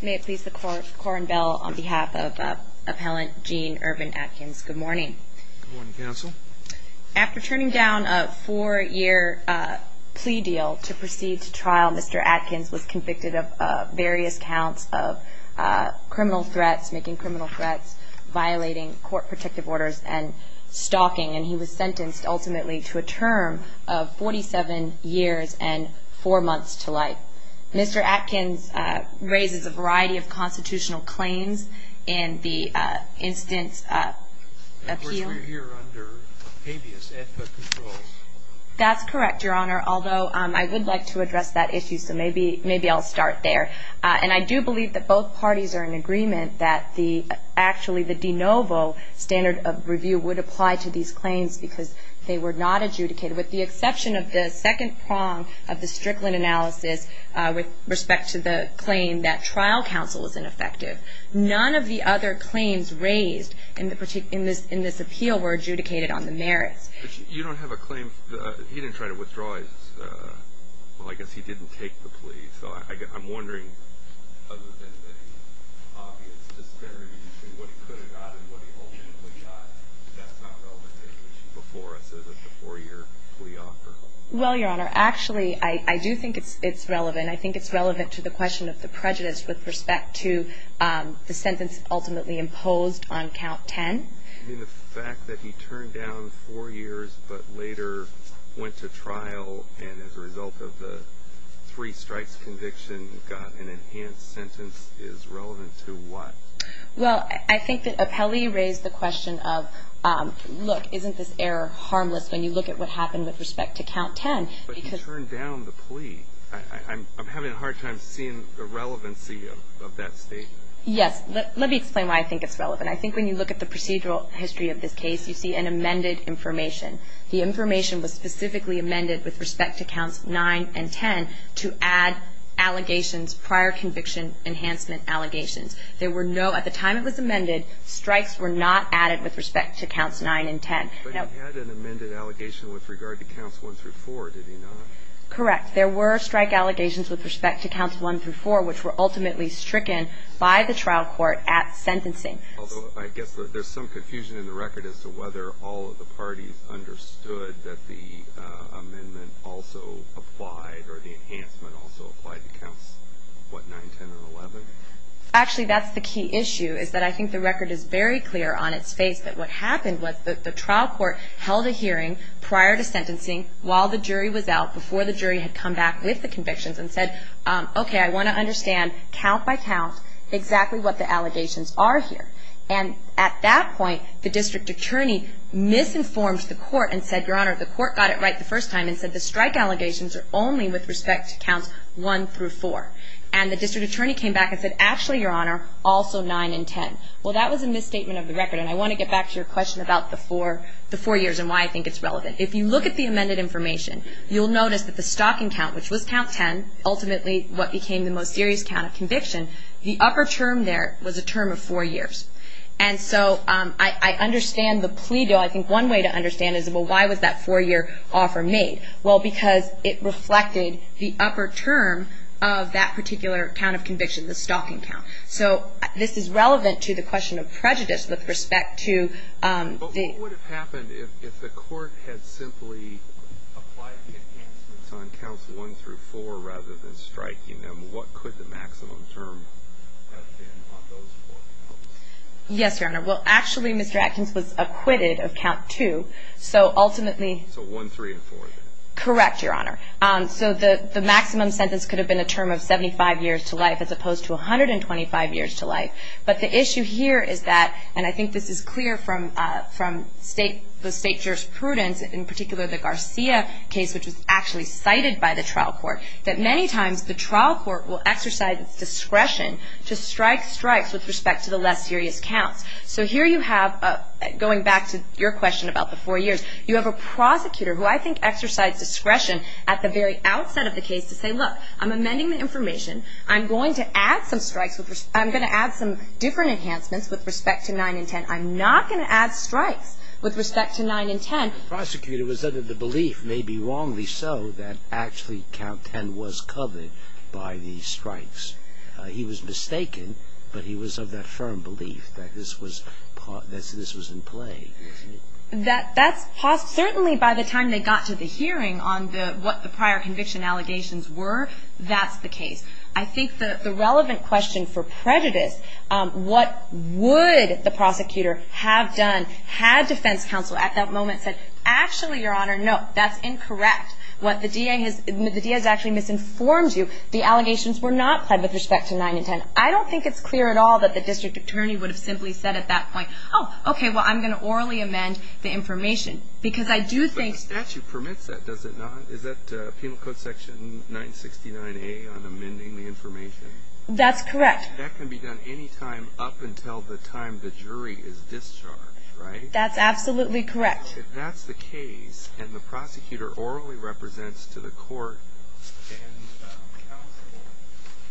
May it please the Court, Corrin Bell on behalf of Appellant Gene Irvin Atkins, good morning. Good morning, Counsel. After turning down a four-year plea deal to proceed to trial, Mr. Atkins was convicted of various counts of criminal threats, making criminal threats, violating court protective orders, and stalking, and he was sentenced ultimately to a term of 47 years and four months to life. Mr. Atkins raises a variety of constitutional claims in the instance of appeal. Of course, we're here under habeas ethnic controls. That's correct, Your Honor, although I would like to address that issue, so maybe I'll start there. And I do believe that both parties are in agreement that actually the de novo standard of review would apply to these claims because they were not adjudicated, with the exception of the second prong of the Strickland analysis with respect to the claim that trial counsel is ineffective. None of the other claims raised in this appeal were adjudicated on the merits. You don't have a claim, he didn't try to withdraw his, well, I guess he didn't take the plea, so I'm wondering, other than the obvious disparity between what he could have gotten and what he ultimately got, that's not relevant to the issue before us, is it, the four-year plea offer? Well, Your Honor, actually, I do think it's relevant. I think it's relevant to the question of the prejudice with respect to the sentence ultimately imposed on count 10. I mean, the fact that he turned down four years but later went to trial and as a result of the three strikes conviction got an enhanced sentence is relevant to what? Well, I think that Appelli raised the question of, look, isn't this error harmless when you look at what happened with respect to count 10? But he turned down the plea. I'm having a hard time seeing the relevancy of that statement. Yes. Let me explain why I think it's relevant. I think when you look at the procedural history of this case, you see an amended information. The information was specifically amended with respect to counts 9 and 10 to add allegations, prior conviction enhancement allegations. There were no, at the time it was amended, strikes were not added with respect to counts 9 and 10. But he had an amended allegation with regard to counts 1 through 4, did he not? Correct. There were strike allegations with respect to counts 1 through 4, which were ultimately stricken by the trial court at sentencing. Although I guess there's some confusion in the record as to whether all of the parties understood that the amendment also applied or the enhancement also applied to counts, what, 9, 10, and 11? Actually, that's the key issue is that I think the record is very clear on its face that what happened was that the trial court held a hearing prior to sentencing while the jury was out, before the jury had come back with the convictions, and said, okay, I want to understand count by count exactly what the allegations are here. And at that point, the district attorney misinformed the court and said, Your Honor, the court got it right the first time and said the strike allegations are only with respect to counts 1 through 4. And the district attorney came back and said, Actually, Your Honor, also 9 and 10. Well, that was a misstatement of the record, and I want to get back to your question about the four years and why I think it's relevant. If you look at the amended information, you'll notice that the stocking count, which was count 10, ultimately what became the most serious count of conviction, the upper term there was a term of four years. And so I understand the plea, though. I think one way to understand is, well, why was that four-year offer made? Well, because it reflected the upper term of that particular count of conviction, the stocking count. So this is relevant to the question of prejudice with respect to the ---- But what would have happened if the court had simply applied the enhancements on counts 1 through 4 rather than striking them? What could the maximum term have been on those four counts? Yes, Your Honor. Well, actually, Mr. Atkins was acquitted of count 2, so ultimately ---- Correct, Your Honor. So the maximum sentence could have been a term of 75 years to life as opposed to 125 years to life. But the issue here is that, and I think this is clear from the state jurisprudence, in particular the Garcia case, which was actually cited by the trial court, that many times the trial court will exercise its discretion to strike strikes with respect to the less serious counts. So here you have, going back to your question about the four years, you have a prosecutor who I think exercised discretion at the very outset of the case to say, look, I'm amending the information, I'm going to add some strikes, I'm going to add some different enhancements with respect to 9 and 10. I'm not going to add strikes with respect to 9 and 10. The prosecutor was under the belief, maybe wrongly so, that actually count 10 was covered by the strikes. He was mistaken, but he was of that firm belief that this was in play. Certainly by the time they got to the hearing on what the prior conviction allegations were, that's the case. I think the relevant question for prejudice, what would the prosecutor have done, had defense counsel at that moment said, actually, Your Honor, no, that's incorrect. The DA has actually misinformed you. The allegations were not pled with respect to 9 and 10. I don't think it's clear at all that the district attorney would have simply said at that point, oh, okay, well, I'm going to orally amend the information. Because I do think... But the statute permits that, does it not? Is that Penal Code section 969A on amending the information? That's correct. That can be done any time up until the time the jury is discharged, right? That's absolutely correct. If that's the case, and the prosecutor orally represents to the court and counsel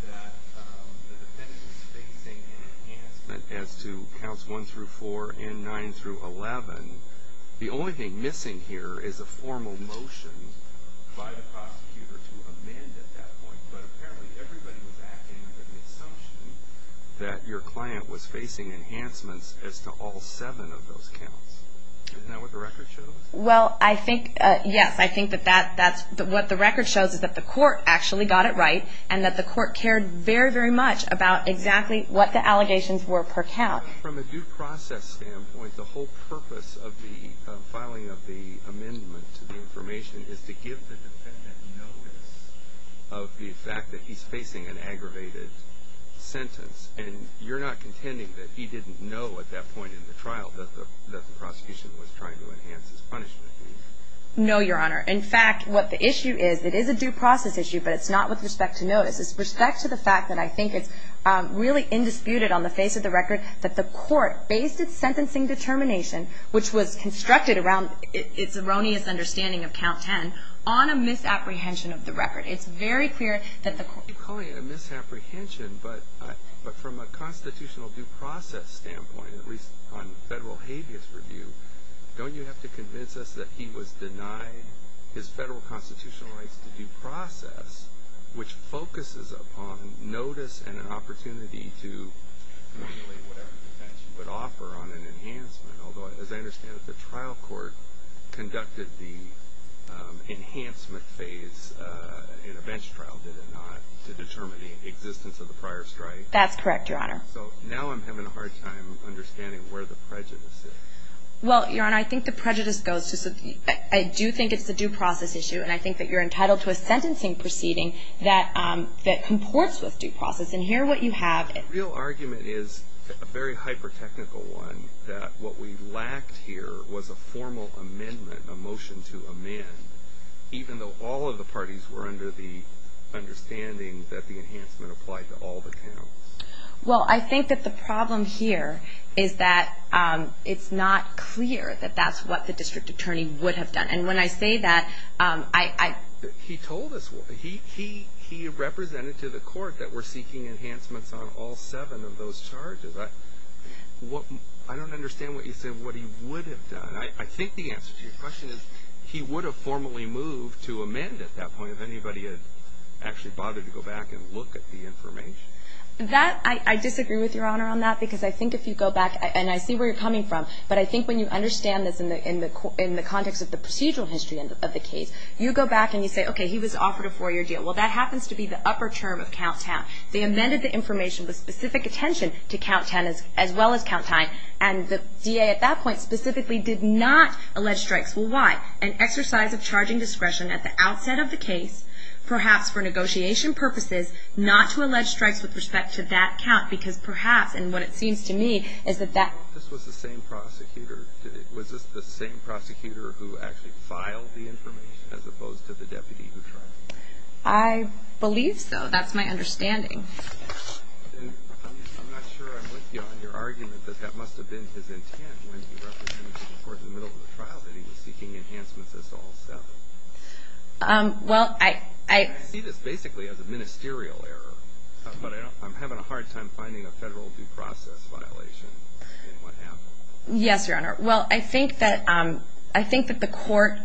that the defendant was facing an enhancement as to counts 1 through 4 and 9 through 11, the only thing missing here is a formal motion by the prosecutor to amend at that point. But apparently, everybody was acting under the assumption that your client was facing enhancements as to all seven of those counts. Isn't that what the record shows? Well, I think, yes. I think that what the record shows is that the court actually got it right and that the court cared very, very much about exactly what the allegations were per count. From a due process standpoint, the whole purpose of the filing of the amendment to the information is to give the defendant notice of the fact that he's facing an aggravated sentence. And you're not contending that he didn't know at that point in the trial that the prosecution was trying to enhance his punishment, do you? No, Your Honor. In fact, what the issue is, it is a due process issue, but it's not with respect to notice. It's with respect to the fact that I think it's really indisputed on the face of the record that the court based its sentencing determination, which was constructed around its erroneous understanding of count 10, on a misapprehension of the record. It's very clear that the court ---- You're calling it a misapprehension, but from a constitutional due process standpoint, at least on federal habeas review, don't you have to convince us that he was denied his federal constitutional rights to due process, which focuses upon notice and an opportunity to manipulate whatever defense you would offer on an enhancement? Although, as I understand it, the trial court conducted the enhancement phase in a bench trial, did it not, to determine the existence of the prior strike? That's correct, Your Honor. So now I'm having a hard time understanding where the prejudice is. Well, Your Honor, I think the prejudice goes to ---- I do think it's a due process issue, and I think that you're entitled to a sentencing proceeding that comports with due process. And here what you have ---- The real argument is a very hyper-technical one, that what we lacked here was a formal amendment, a motion to amend, even though all of the parties were under the understanding that the enhancement applied to all the counts. Well, I think that the problem here is that it's not clear that that's what the district attorney would have done. And when I say that, I ---- He told us what ---- He represented to the court that we're seeking enhancements on all seven of those charges. I don't understand what you said, what he would have done. I think the answer to your question is he would have formally moved to amend at that point if anybody had actually bothered to go back and look at the information. That, I disagree with Your Honor on that, because I think if you go back, and I see where you're coming from, but I think when you understand this in the context of the procedural history of the case, you go back and you say, okay, he was offered a four-year deal. Well, that happens to be the upper term of Count Town. They amended the information with specific attention to Count Town as well as Count Tyne, and the DA at that point specifically did not allege strikes. Well, why? An exercise of charging discretion at the outset of the case, perhaps for negotiation purposes, not to allege strikes with respect to that count, because perhaps, and what it seems to me, is that that ---- Was this the same prosecutor who actually filed the information as opposed to the deputy who tried it? I believe so. That's my understanding. I'm not sure I'm with you on your argument that that must have been his intent when he represented to the court in the middle of the trial that he was seeking enhancements as to all seven. Well, I ---- I see this basically as a ministerial error, but I'm having a hard time finding a federal due process violation in what happened. Yes, Your Honor. Well, I think that the court ----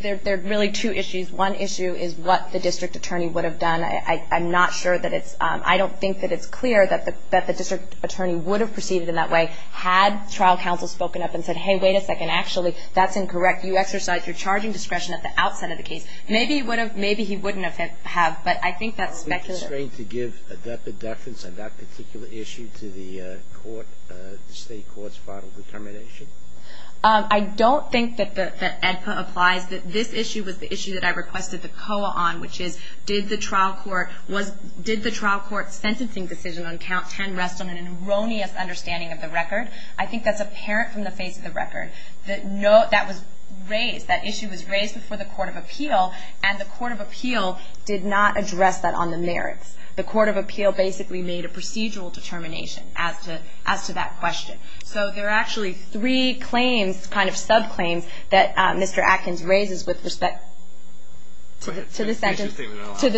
there are really two issues. One issue is what the district attorney would have done. I'm not sure that it's ---- I don't think that it's clear that the district attorney would have proceeded in that way had trial counsel spoken up and said, hey, wait a second, actually, that's incorrect. You exercised your charging discretion at the outset of the case. Maybe he would have ---- maybe he wouldn't have, but I think that's speculative. Are you constrained to give a definite deference on that particular issue to the court, the state court's final determination? I don't think that the EDPA applies. This issue was the issue that I requested the COA on, which is did the trial court was ---- did the trial court's sentencing decision on count 10 rest on an erroneous understanding of the record? I think that's apparent from the face of the record. That was raised. That issue was raised before the Court of Appeal, and the Court of Appeal did not address that on the merits. The Court of Appeal basically made a procedural determination as to that question. So there are actually three claims, kind of subclaims, that Mr. Atkins raises with respect to the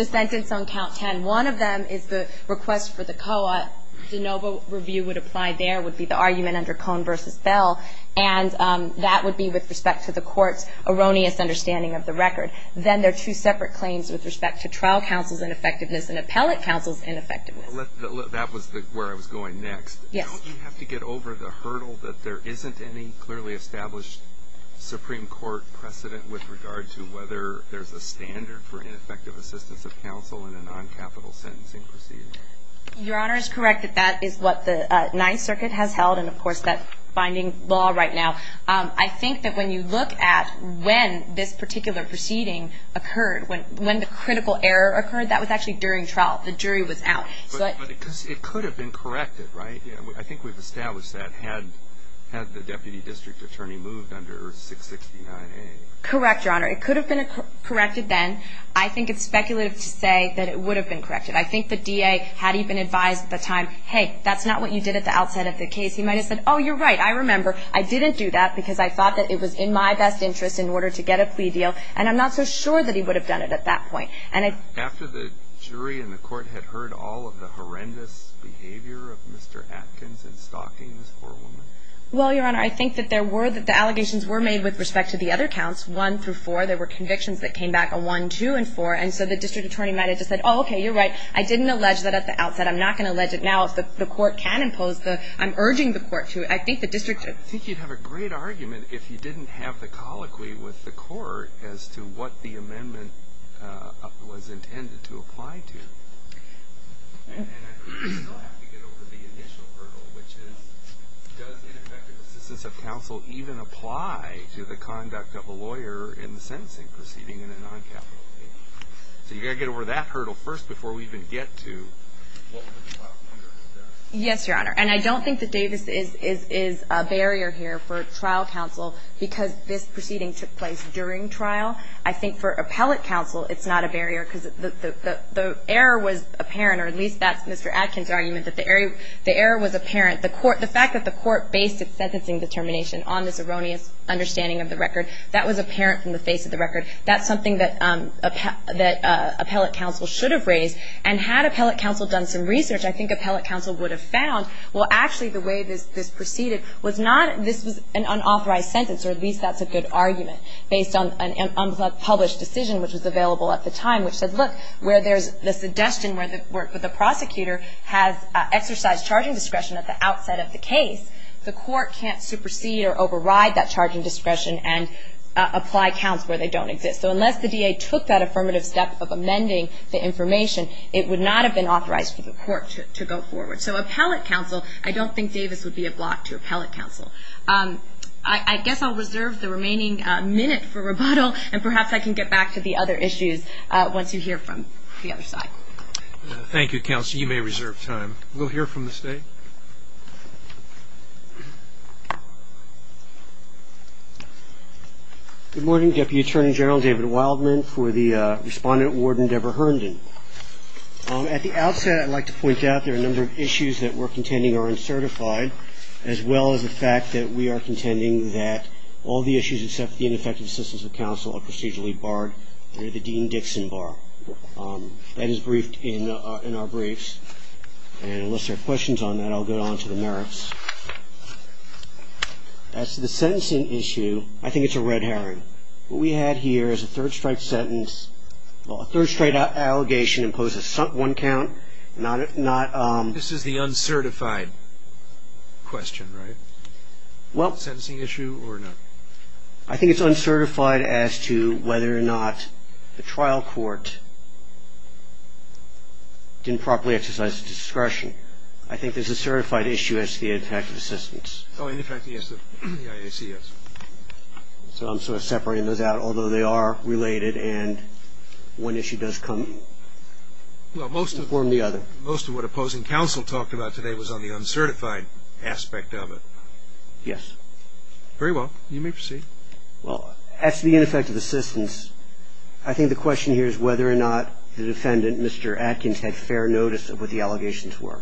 sentence on count 10. One of them is the request for the COA. The De Novo review would apply there, would be the argument under Cohn v. Bell, and that would be with respect to the court's erroneous understanding of the record. Then there are two separate claims with respect to trial counsel's ineffectiveness and appellate counsel's ineffectiveness. That was where I was going next. Yes. Do you have to get over the hurdle that there isn't any clearly established Supreme Court precedent with regard to whether there's a standard for ineffective assistance of counsel in a noncapital sentencing proceeding? Your Honor, it's correct that that is what the Ninth Circuit has held and, of course, that binding law right now. I think that when you look at when this particular proceeding occurred, when the critical error occurred, that was actually during trial. The jury was out. But it could have been corrected, right? I think we've established that had the deputy district attorney moved under 669A. Correct, Your Honor. It could have been corrected then. I think it's speculative to say that it would have been corrected. I think the DA had even advised at the time, hey, that's not what you did at the outset of the case. He might have said, oh, you're right, I remember. I didn't do that because I thought that it was in my best interest in order to get a plea deal, and I'm not so sure that he would have done it at that point. After the jury and the court had heard all of the horrendous behavior of Mr. Atkins in stalking this poor woman? Well, Your Honor, I think that there were the allegations were made with respect to the other counts, 1 through 4. There were convictions that came back on 1, 2, and 4. And so the district attorney might have just said, oh, okay, you're right. I didn't allege that at the outset. I'm not going to allege it now. If the court can impose, I'm urging the court to. I think the district should. I think you'd have a great argument if you didn't have the colloquy with the court as to what the amendment was intended to apply to. And I think we still have to get over the initial hurdle, which is, does ineffective assistance of counsel even apply to the conduct of a lawyer in the sentencing proceeding in a noncapital case? So you've got to get over that hurdle first before we even get to what was allowed under the statute. Yes, Your Honor. And I don't think that Davis is a barrier here for trial counsel because this proceeding took place during trial. I think for appellate counsel it's not a barrier because the error was apparent, or at least that's Mr. Adkin's argument, that the error was apparent. The fact that the court based its sentencing determination on this erroneous understanding of the record, that was apparent from the face of the record. That's something that appellate counsel should have raised. And had appellate counsel done some research, I think appellate counsel would have found, well, actually the way this proceeded was not this was an unauthorized sentence, or at least that's a good argument based on a published decision, which was available at the time, which said, look, where there's the suggestion where the prosecutor has exercised charging discretion at the outset of the case, the court can't supersede or override that charging discretion and apply counts where they don't exist. So unless the DA took that affirmative step of amending the information, it would not have been authorized for the court to go forward. So appellate counsel, I don't think Davis would be a block to appellate counsel. I guess I'll reserve the remaining minute for rebuttal, and perhaps I can get back to the other issues once you hear from the other side. Thank you, counsel. You may reserve time. We'll hear from the state. Good morning, Deputy Attorney General David Wildman for the respondent warden Debra Herndon. At the outset, I'd like to point out there are a number of issues that we're contending are uncertified, as well as the fact that we are contending that all the issues except the ineffective assistance of counsel are procedurally barred under the Dean-Dixon Bar. That is briefed in our briefs. And unless there are questions on that, I'll go on to the merits. As to the sentencing issue, I think it's a red herring. What we had here is a third-strike sentence, a third-strike allegation imposed on one count. This is the uncertified question, right? Sentencing issue or not? I think it's uncertified as to whether or not the trial court didn't properly exercise discretion. I think there's a certified issue as to the effect of assistance. Oh, in effect, yes, the IAC, yes. So I'm sort of separating those out, although they are related, and one issue does come up. Well, most of what opposing counsel talked about today was on the uncertified aspect of it. Yes. Very well. You may proceed. Well, as to the ineffective assistance, I think the question here is whether or not the defendant, Mr. Atkins, had fair notice of what the allegations were.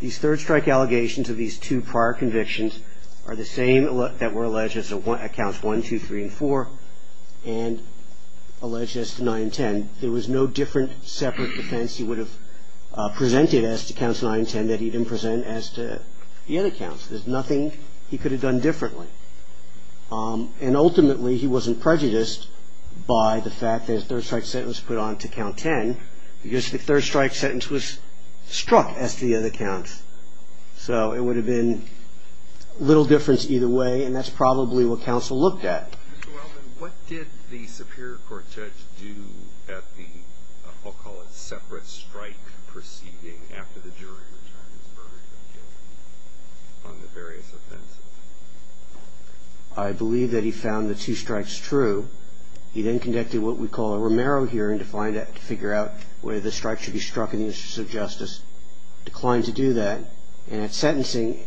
These third-strike allegations of these two prior convictions are the same that were alleged at counts 1, 2, 3, and 4, and alleged as to 9 and 10. And there was no different separate defense he would have presented as to counts 9 and 10 that he didn't present as to the other counts. There's nothing he could have done differently. And ultimately, he wasn't prejudiced by the fact that his third-strike sentence was put on to count 10 because the third-strike sentence was struck as to the other counts. So it would have been little difference either way, and that's probably what counsel looked at. Mr. Weldon, what did the Superior Court judge do at the, I'll call it, separate strike proceeding after the jury returned his verdict on the various offenses? I believe that he found the two strikes true. He then conducted what we call a Romero hearing to find out, to figure out whether the strike should be struck in the interest of justice, declined to do that, and at sentencing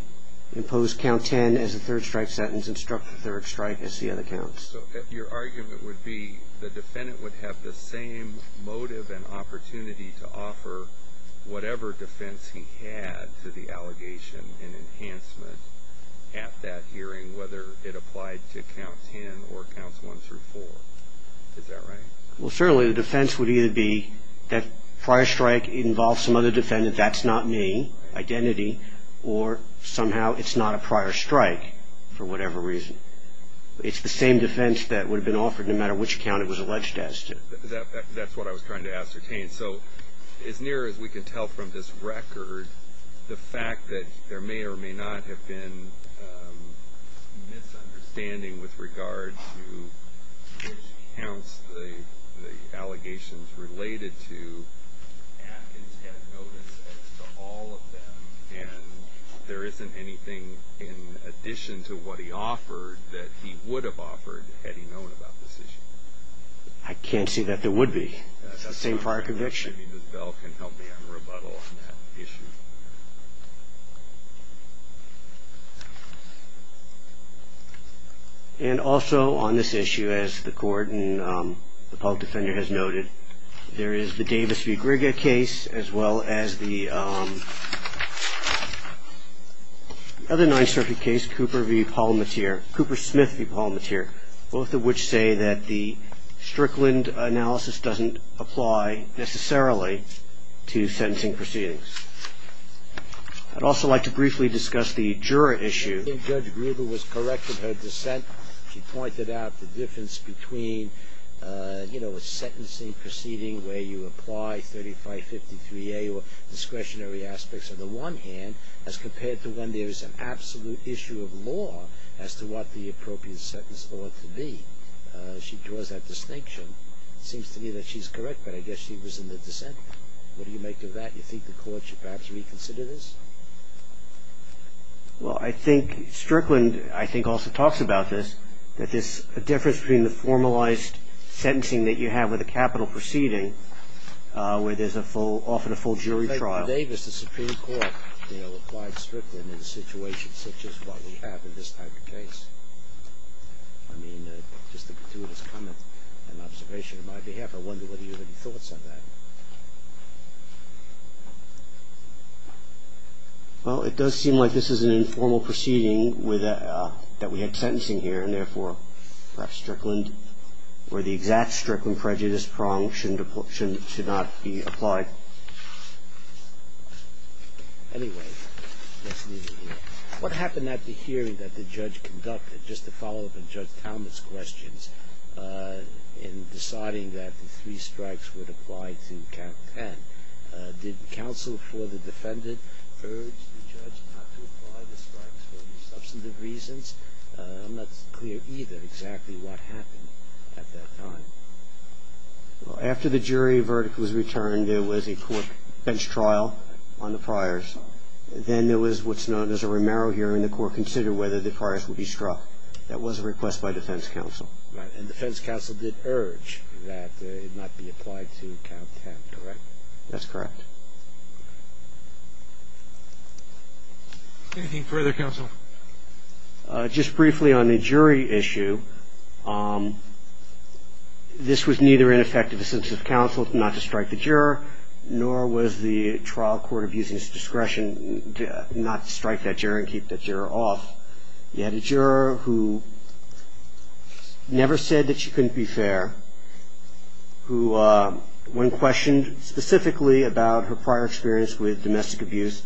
imposed count 10 as the third-strike sentence because it struck the third strike as the other counts. So your argument would be the defendant would have the same motive and opportunity to offer whatever defense he had to the allegation and enhancement at that hearing, whether it applied to count 10 or counts 1 through 4. Is that right? Well, certainly the defense would either be that prior strike involves some other defendant, that's not me, identity, or somehow it's not a prior strike for whatever reason. It's the same defense that would have been offered no matter which count it was alleged as to. That's what I was trying to ascertain. So as near as we can tell from this record, the fact that there may or may not have been misunderstanding with regard to which counts the allegations related to Atkins had notice as to all of them and there isn't anything in addition to what he offered that he would have offered had he known about this issue. I can't see that there would be. It's the same prior conviction. Maybe Ms. Bell can help me on the rebuttal on that issue. And also on this issue, as the court and the public defender has noted, there is the Davis v. Grigia case as well as the other 9th Circuit case, Cooper v. Palmateer, Cooper Smith v. Palmateer, both of which say that the Strickland analysis doesn't apply necessarily to sentencing proceedings. I'd also like to briefly discuss the juror issue. I think Judge Gruber was correct in her dissent. She pointed out the difference between, you know, a sentencing proceeding where you apply 3553A or discretionary aspects on the one hand as compared to when there is an absolute issue of law as to what the appropriate sentence ought to be. She draws that distinction. It seems to me that she's correct, but I guess she was in the dissent. What do you make of that? Do you think the court should perhaps reconsider this? Well, I think Strickland, I think, also talks about this, that there's a difference between the formalized sentencing that you have with a capital proceeding where there's often a full jury trial. Judge Davis, the Supreme Court, you know, applied Strickland in a situation such as what we have in this type of case. I mean, just to conclude this comment and observation on my behalf, I wonder whether you have any thoughts on that. Well, it does seem like this is an informal proceeding that we had sentencing here, and therefore perhaps Strickland or the exact Strickland prejudice prong should not be applied. Anyway, let's leave it here. What happened at the hearing that the judge conducted, just to follow up on Judge Talmadge's questions, in deciding that the three strikes would apply to count 10? Did counsel for the defendant urge the judge not to apply the strikes for any substantive reasons? I'm not clear either exactly what happened at that time. After the jury verdict was returned, there was a court bench trial on the priors. Then there was what's known as a Romero hearing. The court considered whether the priors would be struck. That was a request by defense counsel. And defense counsel did urge that it not be applied to count 10, correct? That's correct. Anything further, counsel? Just briefly on the jury issue, this was neither ineffective assent of counsel not to strike the juror, nor was the trial court abusing its discretion not to strike that juror and keep that juror off. You had a juror who never said that she couldn't be fair, who, when questioned specifically about her prior experience with domestic abuse,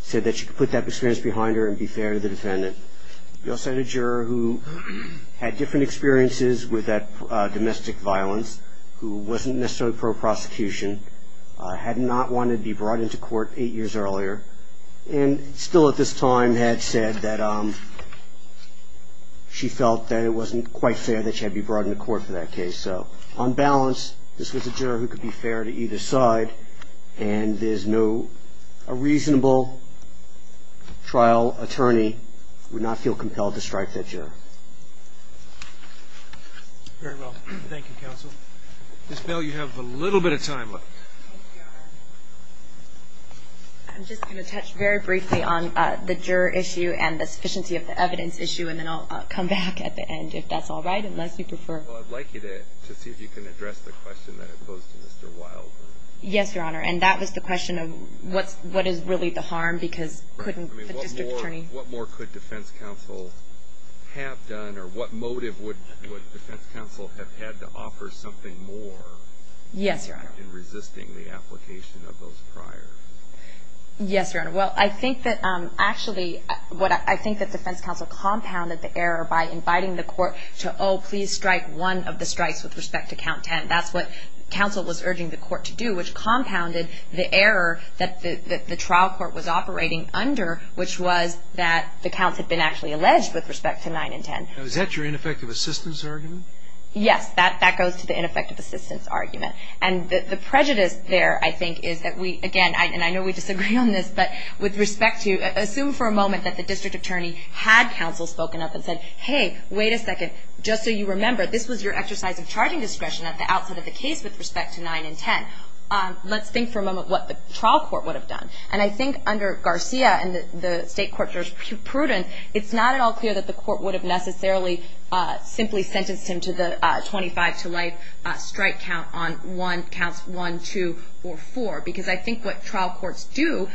said that she could put that experience behind her and be fair to the defendant. You also had a juror who had different experiences with domestic violence, who wasn't necessarily pro-prosecution, had not wanted to be brought into court eight years earlier, and still at this time had said that she felt that it wasn't quite fair that she had to be brought into court for that case. So on balance, this was a juror who could be fair to either side, and a reasonable trial attorney would not feel compelled to strike that juror. Very well. Thank you, counsel. Ms. Bell, you have a little bit of time left. I'm just going to touch very briefly on the juror issue and the sufficiency of the evidence issue, and then I'll come back at the end if that's all right, unless you prefer. Well, I'd like you to see if you can address the question that I posed to Mr. Wilder. Yes, Your Honor. And that was the question of what is really the harm, because couldn't the district attorney? What more could defense counsel have done, or what motive would defense counsel have had to offer something more in resisting the application of those prior? Yes, Your Honor. Well, I think that actually what I think that defense counsel compounded the error by inviting the court to, oh, please strike one of the strikes with respect to count 10. That's what counsel was urging the court to do, which compounded the error that the trial court was operating under, which was that the counts had been actually alleged with respect to 9 and 10. Now, is that your ineffective assistance argument? Yes, that goes to the ineffective assistance argument. And the prejudice there, I think, is that we, again, and I know we disagree on this, but with respect to, assume for a moment that the district attorney had counsel spoken up and said, hey, wait a second, just so you remember, this was your exercise of charging discretion at the outset of the case with respect to 9 and 10. Let's think for a moment what the trial court would have done. And I think under Garcia and the State Court Judge Pruden, it's not at all clear that the court would have necessarily simply sentenced him to the 25 to life strike count on one, counts one, two, or four. Because I think what trial courts do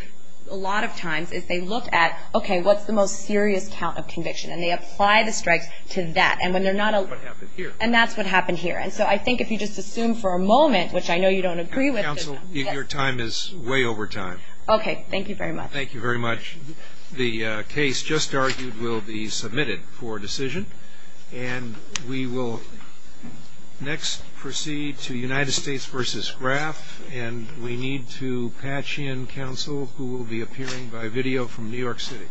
a lot of times is they look at, okay, what's the most serious count of conviction? And they apply the strikes to that. And when they're not a... What happened here. And that's what happened here. And so I think if you just assume for a moment, which I know you don't agree with... Counsel, your time is way over time. Okay. Thank you very much. Thank you very much. The case just argued will be submitted for decision. And we will next proceed to United States v. Graf. And we need to patch in counsel who will be appearing by video from New York City.